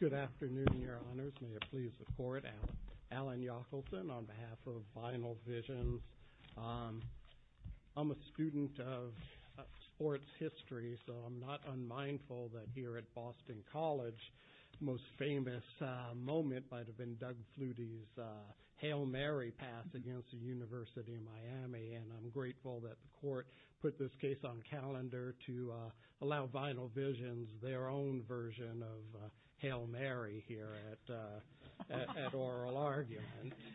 Good afternoon, your honors. May it please the court. Alan Yockelton on behalf of Vinyl Visions. I'm a student of sports history, so I'm not unmindful that here at Boston University of Miami, and I'm grateful that the court put this case on calendar to allow Vinyl Visions their own version of Hail Mary here at oral argument.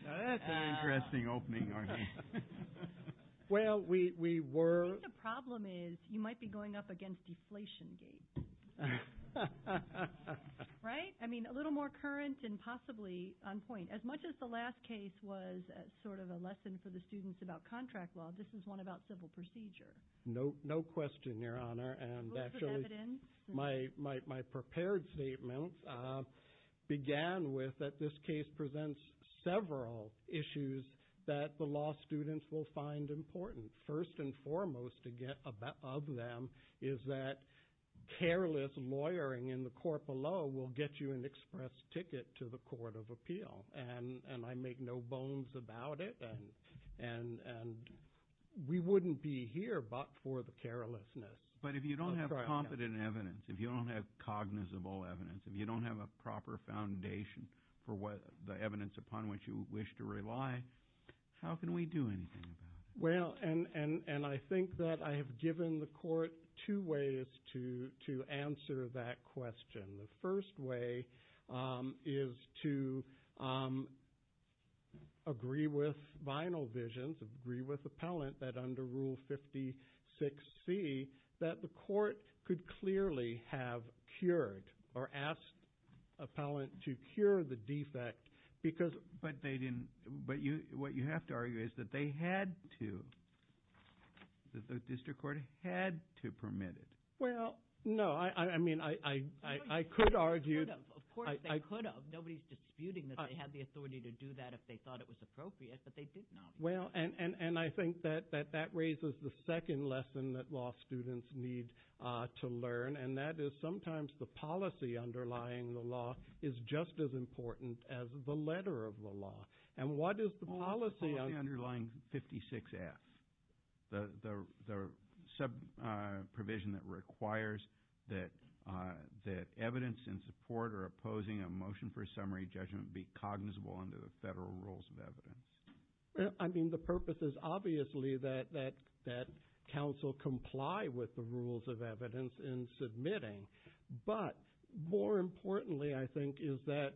That's an interesting opening, Arnie. Well, we were... I think the problem is you might be going up against deflation gates. Right? I mean, a little more current and possibly on point. As much as the last case was sort of a lesson for the students about contract law, this is one about civil procedure. No question, your honor. Rules of evidence. My prepared statement began with that this case presents several issues that the law students will find important. First and foremost of them is that careless lawyering in the court below will get you an express ticket to the court of appeal. And I make no bones about it, and we wouldn't be here but for the carelessness. But if you don't have competent evidence, if you don't have cognizable evidence, if you don't have a proper foundation for the evidence upon which you wish to rely, how can we do anything about it? Well, and I think that I have given the court two ways to answer that question. The first way is to agree with Vinyl Visions, agree with appellant that under Rule 56C that the court could clearly have cured or asked appellant to cure the defect because... But what you have to argue is that they had to, that the district court had to permit it. Well, no. I mean I could argue... Of course they could have. Nobody's disputing that they had the authority to do that if they thought it was appropriate, but they did not. Well, and I think that that raises the second lesson that law students need to learn, and that is sometimes the policy underlying the law is just as important as the letter of the law. And what is the policy... The policy underlying 56F, the sub-provision that requires that evidence in support or opposing a motion for summary judgment be cognizable under the federal rules of evidence. Well, I mean the purpose is obviously that counsel comply with the rules of evidence in submitting, but more importantly I think is that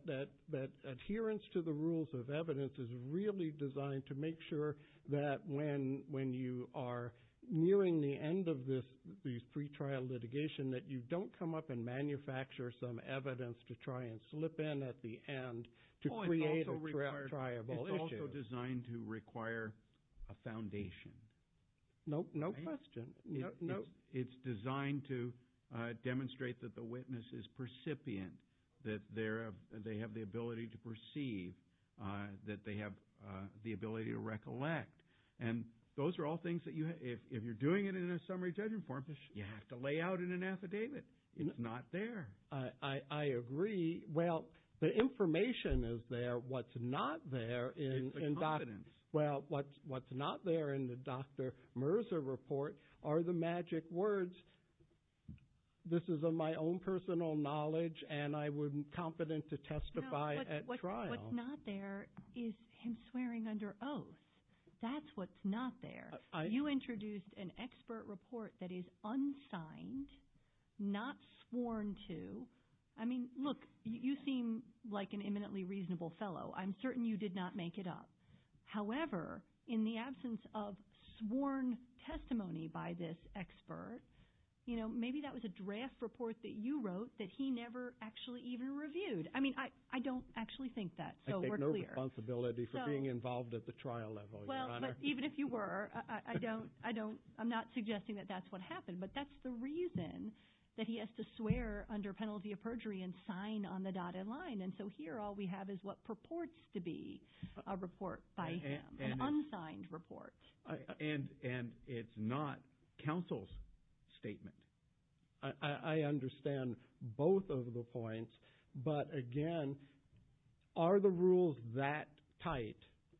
adherence to the rules of evidence is really designed to make sure that when you are nearing the end of this pretrial litigation that you don't come up and manufacture some evidence to try and slip in at the end to create a triable issue. It's also designed to require a foundation. Nope, no question. It's designed to demonstrate that the witness is percipient, that they have the ability to perceive, that they have the ability to recollect. And those are all things that if you're doing it in a summary judgment form you have to lay out in an affidavit. It's not there. I agree. Well, the information is there. What's not there in... The confidence. Well, what's not there in the Dr. Merza report are the magic words, this is of my own personal knowledge and I wouldn't be confident to testify at trial. No, what's not there is him swearing under oath. That's what's not there. You introduced an expert report that is unsigned, not sworn to. I mean, look, you seem like an eminently reasonable fellow. I'm certain you did not make it up. However, in the absence of sworn testimony by this expert, maybe that was a draft report that you wrote that he never actually even reviewed. I mean, I don't actually think that, so we're clear. I take no responsibility for being involved at the trial level, Your Honor. But even if you were, I'm not suggesting that that's what happened. But that's the reason that he has to swear under penalty of perjury and sign on the dotted line. And so here all we have is what purports to be a report by him, an unsigned report. And it's not counsel's statement. I understand both of the points, but again, are the rules that tight?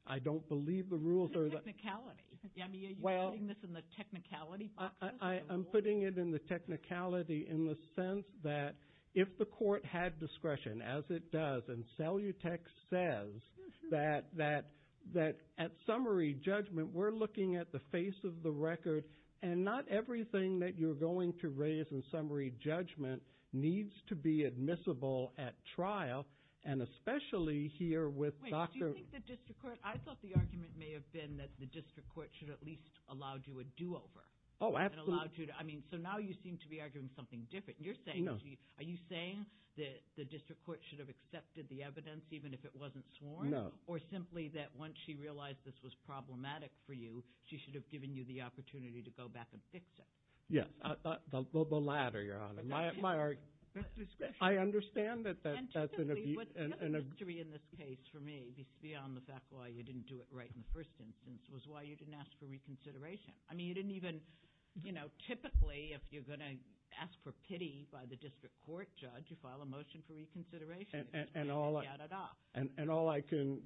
I don't believe the rules are that tight. Technicality. I mean, are you putting this in the technicality boxes? I'm putting it in the technicality in the sense that if the court had discretion, as it does, and Cellutex says that at summary judgment we're looking at the face of the record and not everything that you're going to raise in summary judgment needs to be admissible at trial. And especially here with Dr. Wait, do you think the district court, I thought the argument may have been that the district court should have at least allowed you a do-over. Oh, absolutely. I mean, so now you seem to be arguing something different. No. Are you saying that the district court should have accepted the evidence even if it wasn't sworn? No. Or simply that once she realized this was problematic for you, she should have given you the opportunity to go back and fix it? Yes, the latter, Your Honor. I understand that that's an abuse. The history in this case for me, beyond the fact why you didn't do it right in the first instance, was why you didn't ask for reconsideration. I mean, you didn't even, you know, typically if you're going to ask for pity by the district court judge, you file a motion for reconsideration. And all I can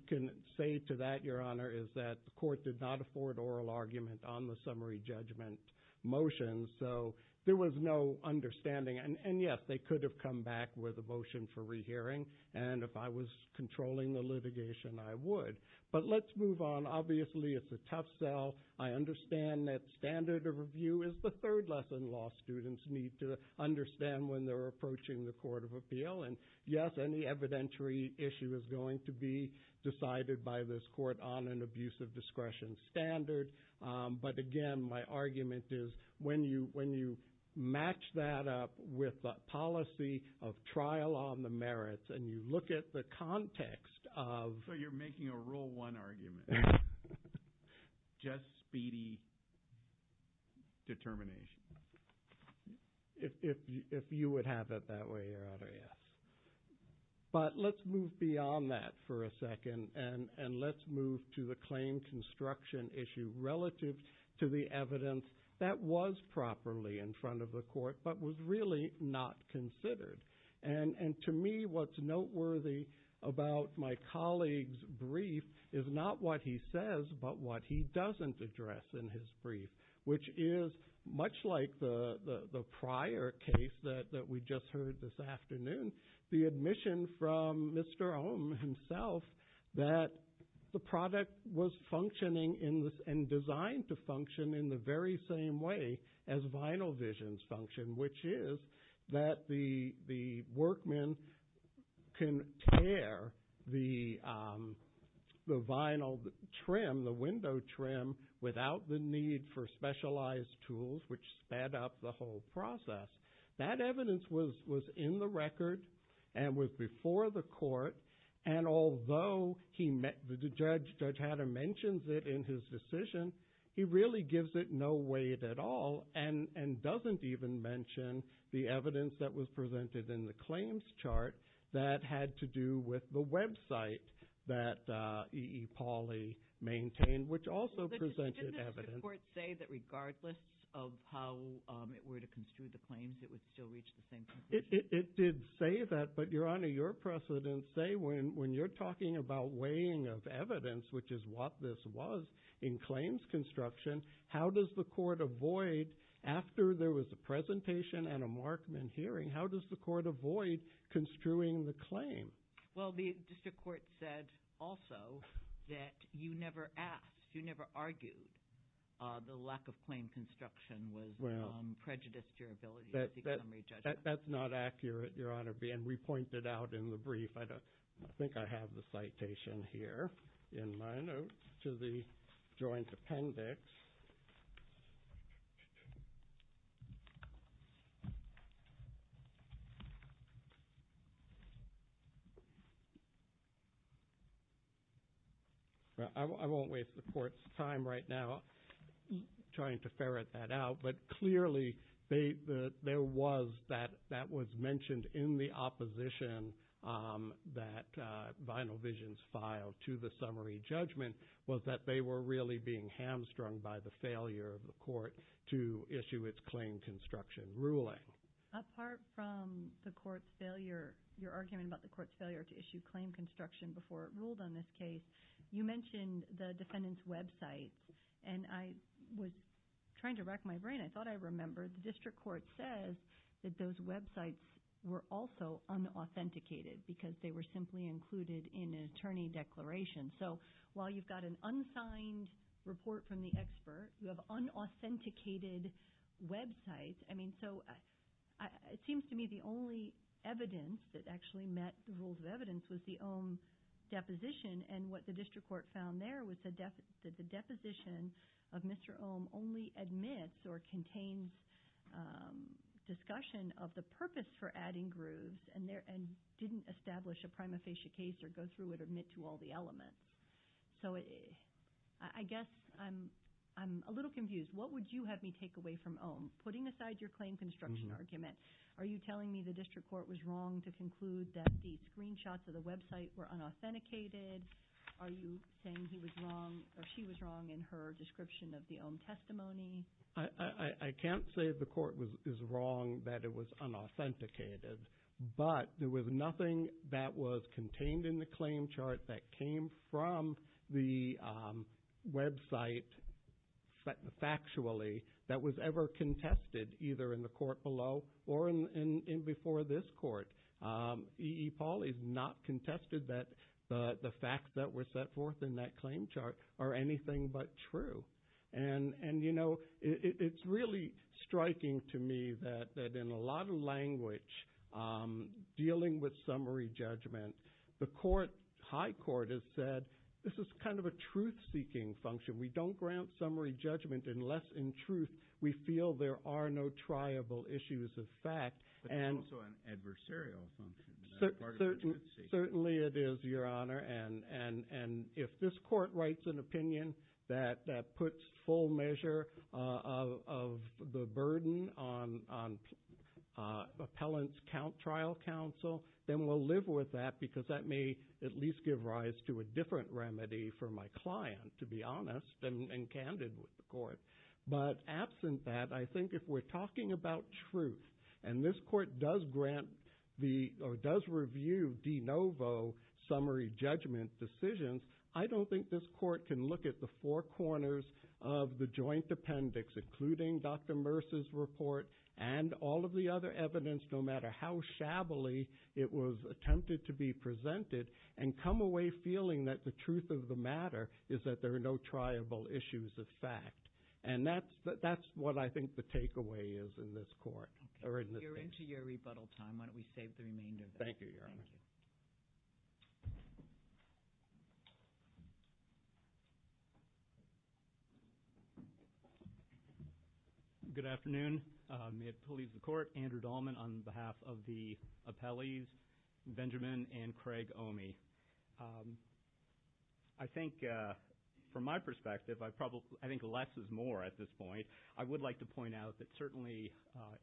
say to that, Your Honor, is that the court did not afford oral argument on the summary judgment motion, so there was no understanding. And, yes, they could have come back with a motion for rehearing, and if I was controlling the litigation, I would. But let's move on. Obviously, it's a tough sell. I understand that standard of review is the third lesson law students need to understand when they're approaching the court of appeal. And, yes, any evidentiary issue is going to be decided by this court on an abuse of discretion standard. But, again, my argument is when you match that up with a policy of trial on the merits and you look at the context of... So you're making a rule one argument. Just speedy determination. If you would have it that way, Your Honor, yes. But let's move beyond that for a second, and let's move to the claim construction issue relative to the evidence that was properly in front of the court but was really not considered. And to me, what's noteworthy about my colleague's brief is not what he says but what he doesn't address in his brief, which is much like the prior case that we just heard this afternoon, the admission from Mr. Ohm himself that the product was functioning and designed to function in the very same way as vinyl visions function, which is that the workman can tear the vinyl trim, the window trim, without the need for specialized tools, which sped up the whole process. That evidence was in the record and was before the court, and although Judge Hatter mentions it in his decision, he really gives it no weight at all and doesn't even mention the evidence that was presented in the claims chart that had to do with the website that E. E. Pauli maintained, which also presented evidence. Did the court say that regardless of how it were to construe the claims, it would still reach the same conclusion? It did say that, but, Your Honor, your precedents say when you're talking about weighing of evidence, which is what this was in claims construction, how does the court avoid, after there was a presentation and a Markman hearing, how does the court avoid construing the claim? Well, the district court said also that you never asked, you never argued the lack of claim construction was prejudiced to your ability as a summary judge. That's not accurate, Your Honor, and we pointed out in the brief. I think I have the citation here in my notes to the joint appendix. I won't waste the court's time right now trying to ferret that out, but clearly there was that that was mentioned in the opposition that Vinyl Visions filed to the summary judgment was that they were really being hamstrung by the failure of the court to issue its claim construction ruling. Apart from the court's failure, your argument about the court's failure to issue claim construction before it ruled on this case, you mentioned the defendant's websites, and I was trying to rack my brain. I thought I remembered the district court says that those websites were also unauthenticated because they were simply included in an attorney declaration. So while you've got an unsigned report from the expert, you have unauthenticated websites. I mean, so it seems to me the only evidence that actually met the rules of evidence was the Ohm deposition, and what the district court found there was that the deposition of Mr. Ohm only admits or contains discussion of the purpose for adding grooves and didn't establish a prima facie case or go through it or admit to all the elements. So I guess I'm a little confused. What would you have me take away from Ohm? Putting aside your claim construction argument, are you telling me the district court was wrong to conclude that the screenshots of the website were unauthenticated? Are you saying he was wrong or she was wrong in her description of the Ohm testimony? I can't say the court is wrong that it was unauthenticated, but there was nothing that was contained in the claim chart that came from the website factually that was ever contested either in the court below or before this court. E. E. Paul is not contested that the facts that were set forth in that claim chart are anything but true. It's really striking to me that in a lot of language dealing with summary judgment, the high court has said this is kind of a truth-seeking function. We don't grant summary judgment unless in truth we feel there are no triable issues of fact. But it's also an adversarial function. Certainly it is, Your Honor, and if this court writes an opinion that puts full measure of the burden on appellant's trial counsel, then we'll live with that because that may at least give rise to a different remedy for my client, to be honest, and candid with the court. But absent that, I think if we're talking about truth, and this court does review de novo summary judgment decisions, I don't think this court can look at the four corners of the joint appendix, including Dr. Merce's report and all of the other evidence, no matter how shabbily it was attempted to be presented, and come away feeling that the truth of the matter is that there are no triable issues of fact. And that's what I think the takeaway is in this court, or in this case. You're into your rebuttal time. Why don't we save the remainder of this. Thank you, Your Honor. Thank you. Good afternoon. May it please the Court. Andrew Dolman on behalf of the appellees, Benjamin and Craig Omi. I think from my perspective, I think less is more at this point. I would like to point out that certainly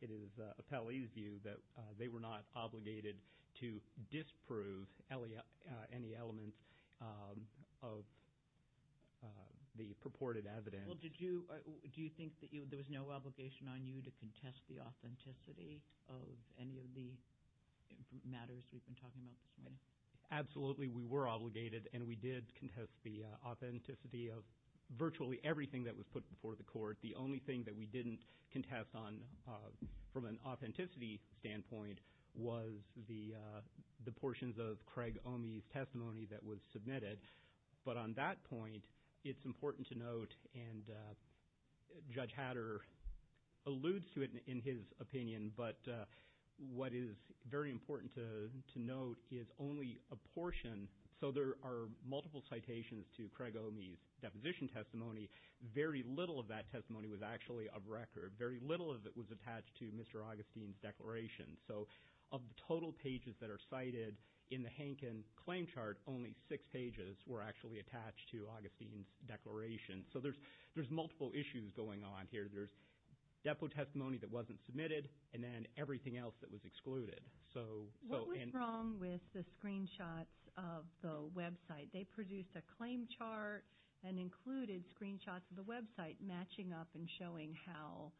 it is appellee's view that they were not obligated to disprove any element of the purported evidence. Well, do you think that there was no obligation on you to contest the authenticity of any of the matters we've been talking about this morning? Absolutely, we were obligated, and we did contest the authenticity of virtually everything that was put before the Court. The only thing that we didn't contest from an authenticity standpoint was the portions of Craig Omi's testimony that was submitted. But on that point, it's important to note, and Judge Hatter alludes to it in his opinion, but what is very important to note is only a portion. So there are multiple citations to Craig Omi's deposition testimony. Very little of that testimony was actually of record. Very little of it was attached to Mr. Augustine's declaration. So of the total pages that are cited in the Hankin claim chart, only six pages were actually attached to Augustine's declaration. So there's multiple issues going on here. There's depo testimony that wasn't submitted, and then everything else that was excluded. What was wrong with the screenshots of the website? They produced a claim chart and included screenshots of the website matching up and showing how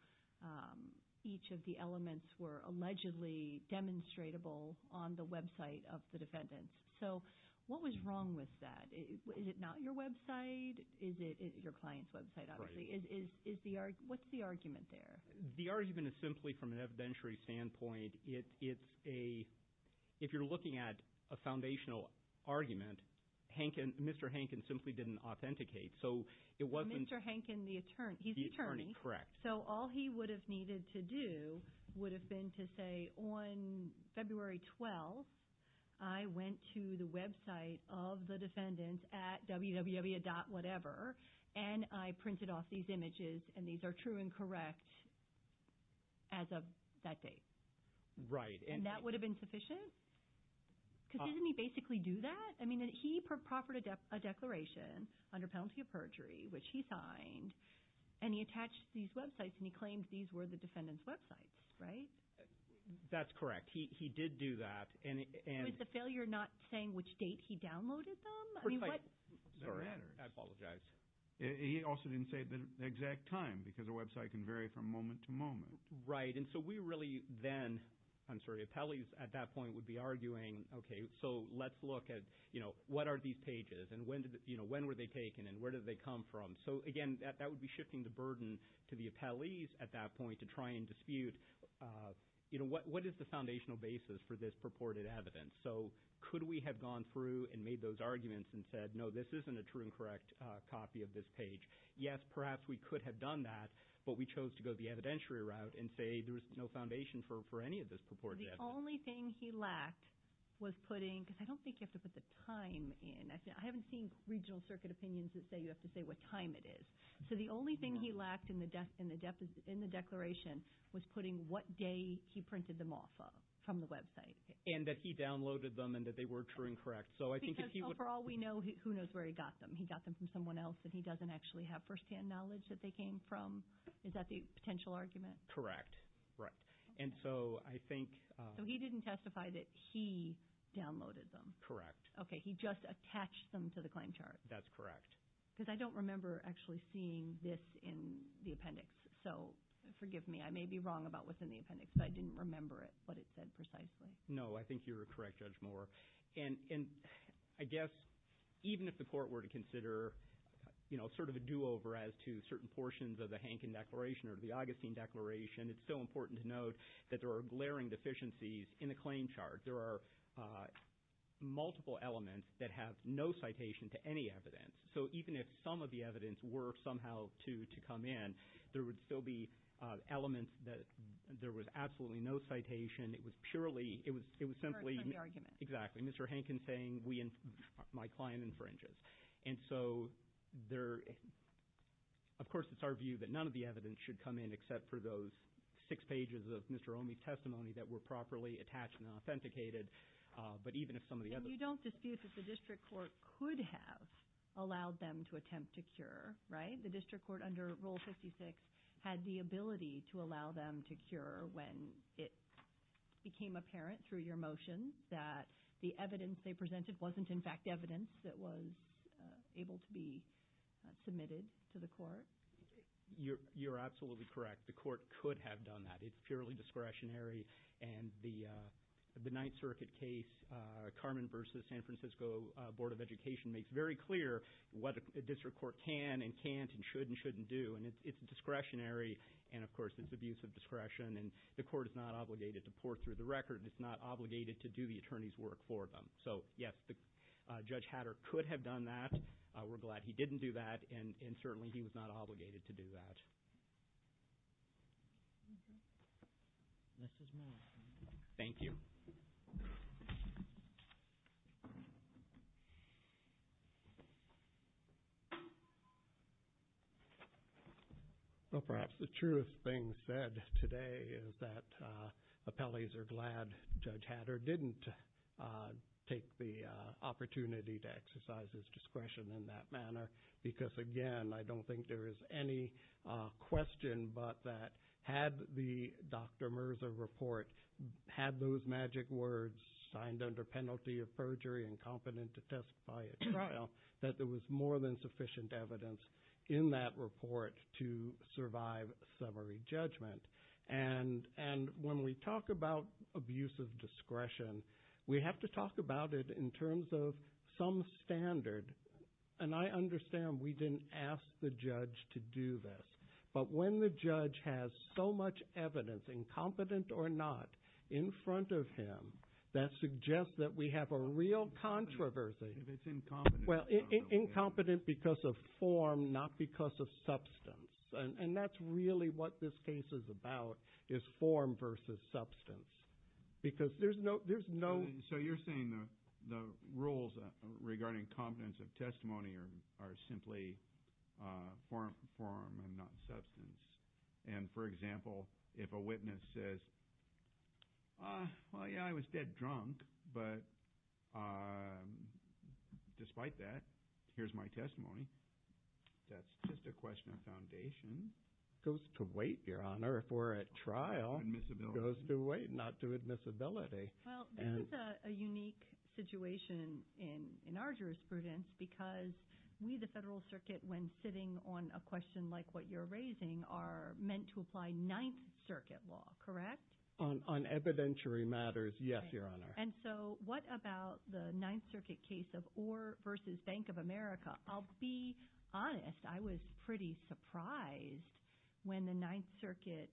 each of the elements were allegedly demonstratable on the website of the defendants. So what was wrong with that? Is it not your website? Is it your client's website, obviously? What's the argument there? The argument is simply from an evidentiary standpoint, it's a – if you're looking at a foundational argument, Mr. Hankin simply didn't authenticate. So it wasn't – Mr. Hankin, the attorney, he's the attorney. Correct. So all he would have needed to do would have been to say, On February 12th, I went to the website of the defendants at www.whatever, and I printed off these images, and these are true and correct as of that date. Right. And that would have been sufficient? Because didn't he basically do that? I mean, he proffered a declaration under penalty of perjury, which he signed, and he attached these websites, and he claimed these were the defendants' websites, right? That's correct. He did do that, and – Was the failure not saying which date he downloaded them? I mean, what – Sorry. I apologize. He also didn't say the exact time because a website can vary from moment to moment. Right, and so we really then – I'm sorry, appellees at that point would be arguing, Okay, so let's look at what are these pages, and when were they taken, and where did they come from? So, again, that would be shifting the burden to the appellees at that point to try and dispute, you know, what is the foundational basis for this purported evidence? So could we have gone through and made those arguments and said, No, this isn't a true and correct copy of this page? Yes, perhaps we could have done that, but we chose to go the evidentiary route and say there was no foundation for any of this purported evidence. The only thing he lacked was putting – because I don't think you have to put the time in. I haven't seen regional circuit opinions that say you have to say what time it is. So the only thing he lacked in the declaration was putting what day he printed them off from the website. And that he downloaded them and that they were true and correct. Because overall we know who knows where he got them. He got them from someone else, and he doesn't actually have first-hand knowledge that they came from. Is that the potential argument? Correct, right, and so I think – So he didn't testify that he downloaded them. Correct. Okay, he just attached them to the claim chart. That's correct. Because I don't remember actually seeing this in the appendix. So forgive me, I may be wrong about what's in the appendix, but I didn't remember it, what it said precisely. No, I think you're correct, Judge Moore. And I guess even if the court were to consider sort of a do-over as to certain portions of the Hanken Declaration or the Augustine Declaration, it's so important to note that there are glaring deficiencies in the claim chart. There are multiple elements that have no citation to any evidence. So even if some of the evidence were somehow to come in, there would still be elements that – there was absolutely no citation. It was purely – it was simply – Inferred from the argument. Exactly. Mr. Hanken saying we – my client infringes. And so there – of course it's our view that none of the evidence should come in except for those six pages of Mr. Omi's testimony that were properly attached and authenticated. But even if some of the evidence – And you don't dispute that the district court could have allowed them to attempt to cure, right? The district court under Rule 56 had the ability to allow them to cure when it became apparent through your motion that the evidence they presented wasn't, in fact, evidence that was able to be submitted to the court. You're absolutely correct. The court could have done that. It's purely discretionary. And the Ninth Circuit case, Carmen v. San Francisco Board of Education, makes very clear what a district court can and can't and should and shouldn't do. And it's discretionary. And, of course, it's abuse of discretion. And the court is not obligated to pour through the record. It's not obligated to do the attorney's work for them. So, yes, Judge Hatter could have done that. We're glad he didn't do that. And, certainly, he was not obligated to do that. Thank you. Well, perhaps the truest thing said today is that appellees are glad Judge Hatter didn't take the opportunity to exercise his discretion in that manner. Because, again, I don't think there is any question but that had the Dr. Mirza report had those magic words signed under penalty of perjury and competent to testify at trial, that there was more than sufficient evidence in that report to survive summary judgment. And when we talk about abuse of discretion, we have to talk about it in terms of some standard. And I understand we didn't ask the judge to do this. But when the judge has so much evidence, incompetent or not, in front of him, that suggests that we have a real controversy. Well, incompetent because of form, not because of substance. And that's really what this case is about, is form versus substance. Because there's no... So you're saying the rules regarding competence of testimony are simply form and not substance. And, for example, if a witness says, well, yeah, I was dead drunk. But despite that, here's my testimony. That's just a question of foundation. It goes to weight, Your Honor. If we're at trial, it goes to weight, not to admissibility. Well, this is a unique situation in our jurisprudence because we, the Federal Circuit, when sitting on a question like what you're raising, are meant to apply Ninth Circuit law, correct? On evidentiary matters, yes, Your Honor. And so what about the Ninth Circuit case of Orr versus Bank of America? I'll be honest. I was pretty surprised when the Ninth Circuit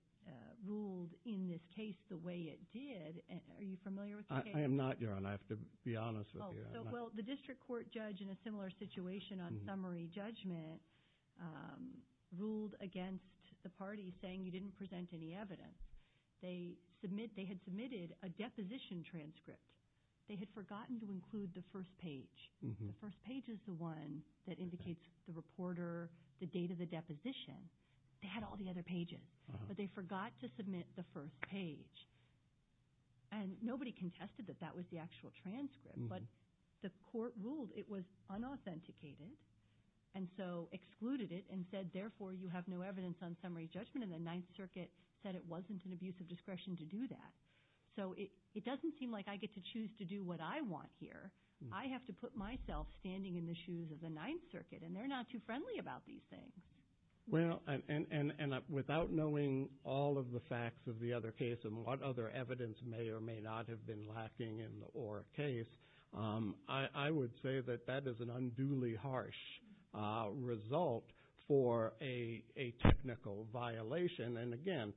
ruled in this case the way it did. Are you familiar with the case? I am not, Your Honor. I have to be honest with you. Well, the district court judge in a similar situation on summary judgment ruled against the party saying you didn't present any evidence. They had submitted a deposition transcript. They had forgotten to include the first page. The first page is the one that indicates the reporter, the date of the deposition. They had all the other pages, but they forgot to submit the first page. And nobody contested that that was the actual transcript, but the court ruled it was unauthenticated and so excluded it and said, therefore, you have no evidence on summary judgment, and the Ninth Circuit said it wasn't an abuse of discretion to do that. So it doesn't seem like I get to choose to do what I want here. I have to put myself standing in the shoes of the Ninth Circuit, and they're not too friendly about these things. Well, and without knowing all of the facts of the other case and what other evidence may or may not have been lacking in the Orr case, I would say that that is an unduly harsh result for a technical violation. And, again,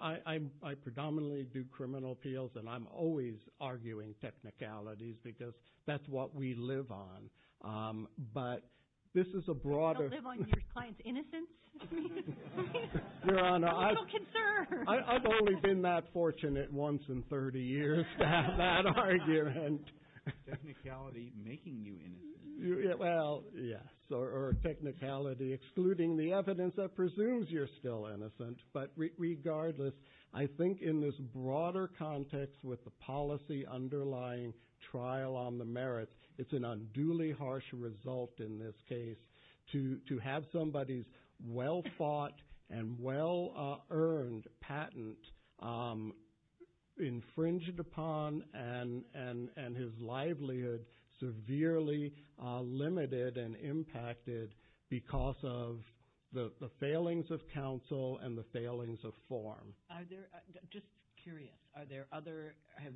I predominantly do criminal appeals, and I'm always arguing technicalities because that's what we live on. But this is a broader – You don't live on your client's innocence? Your Honor, I've only been that fortunate once in 30 years to have that argument. Technicality making you innocent. Well, yes, or technicality excluding the evidence that presumes you're still innocent. But regardless, I think in this broader context with the policy underlying trial on the merits, it's an unduly harsh result in this case to have somebody's well-fought and well-earned patent infringed upon because of the failings of counsel and the failings of form. Just curious, are there other – has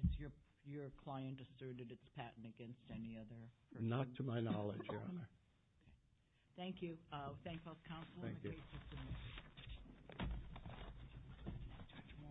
your client asserted its patent against any other person? Not to my knowledge, Your Honor. Thank you. Thank you.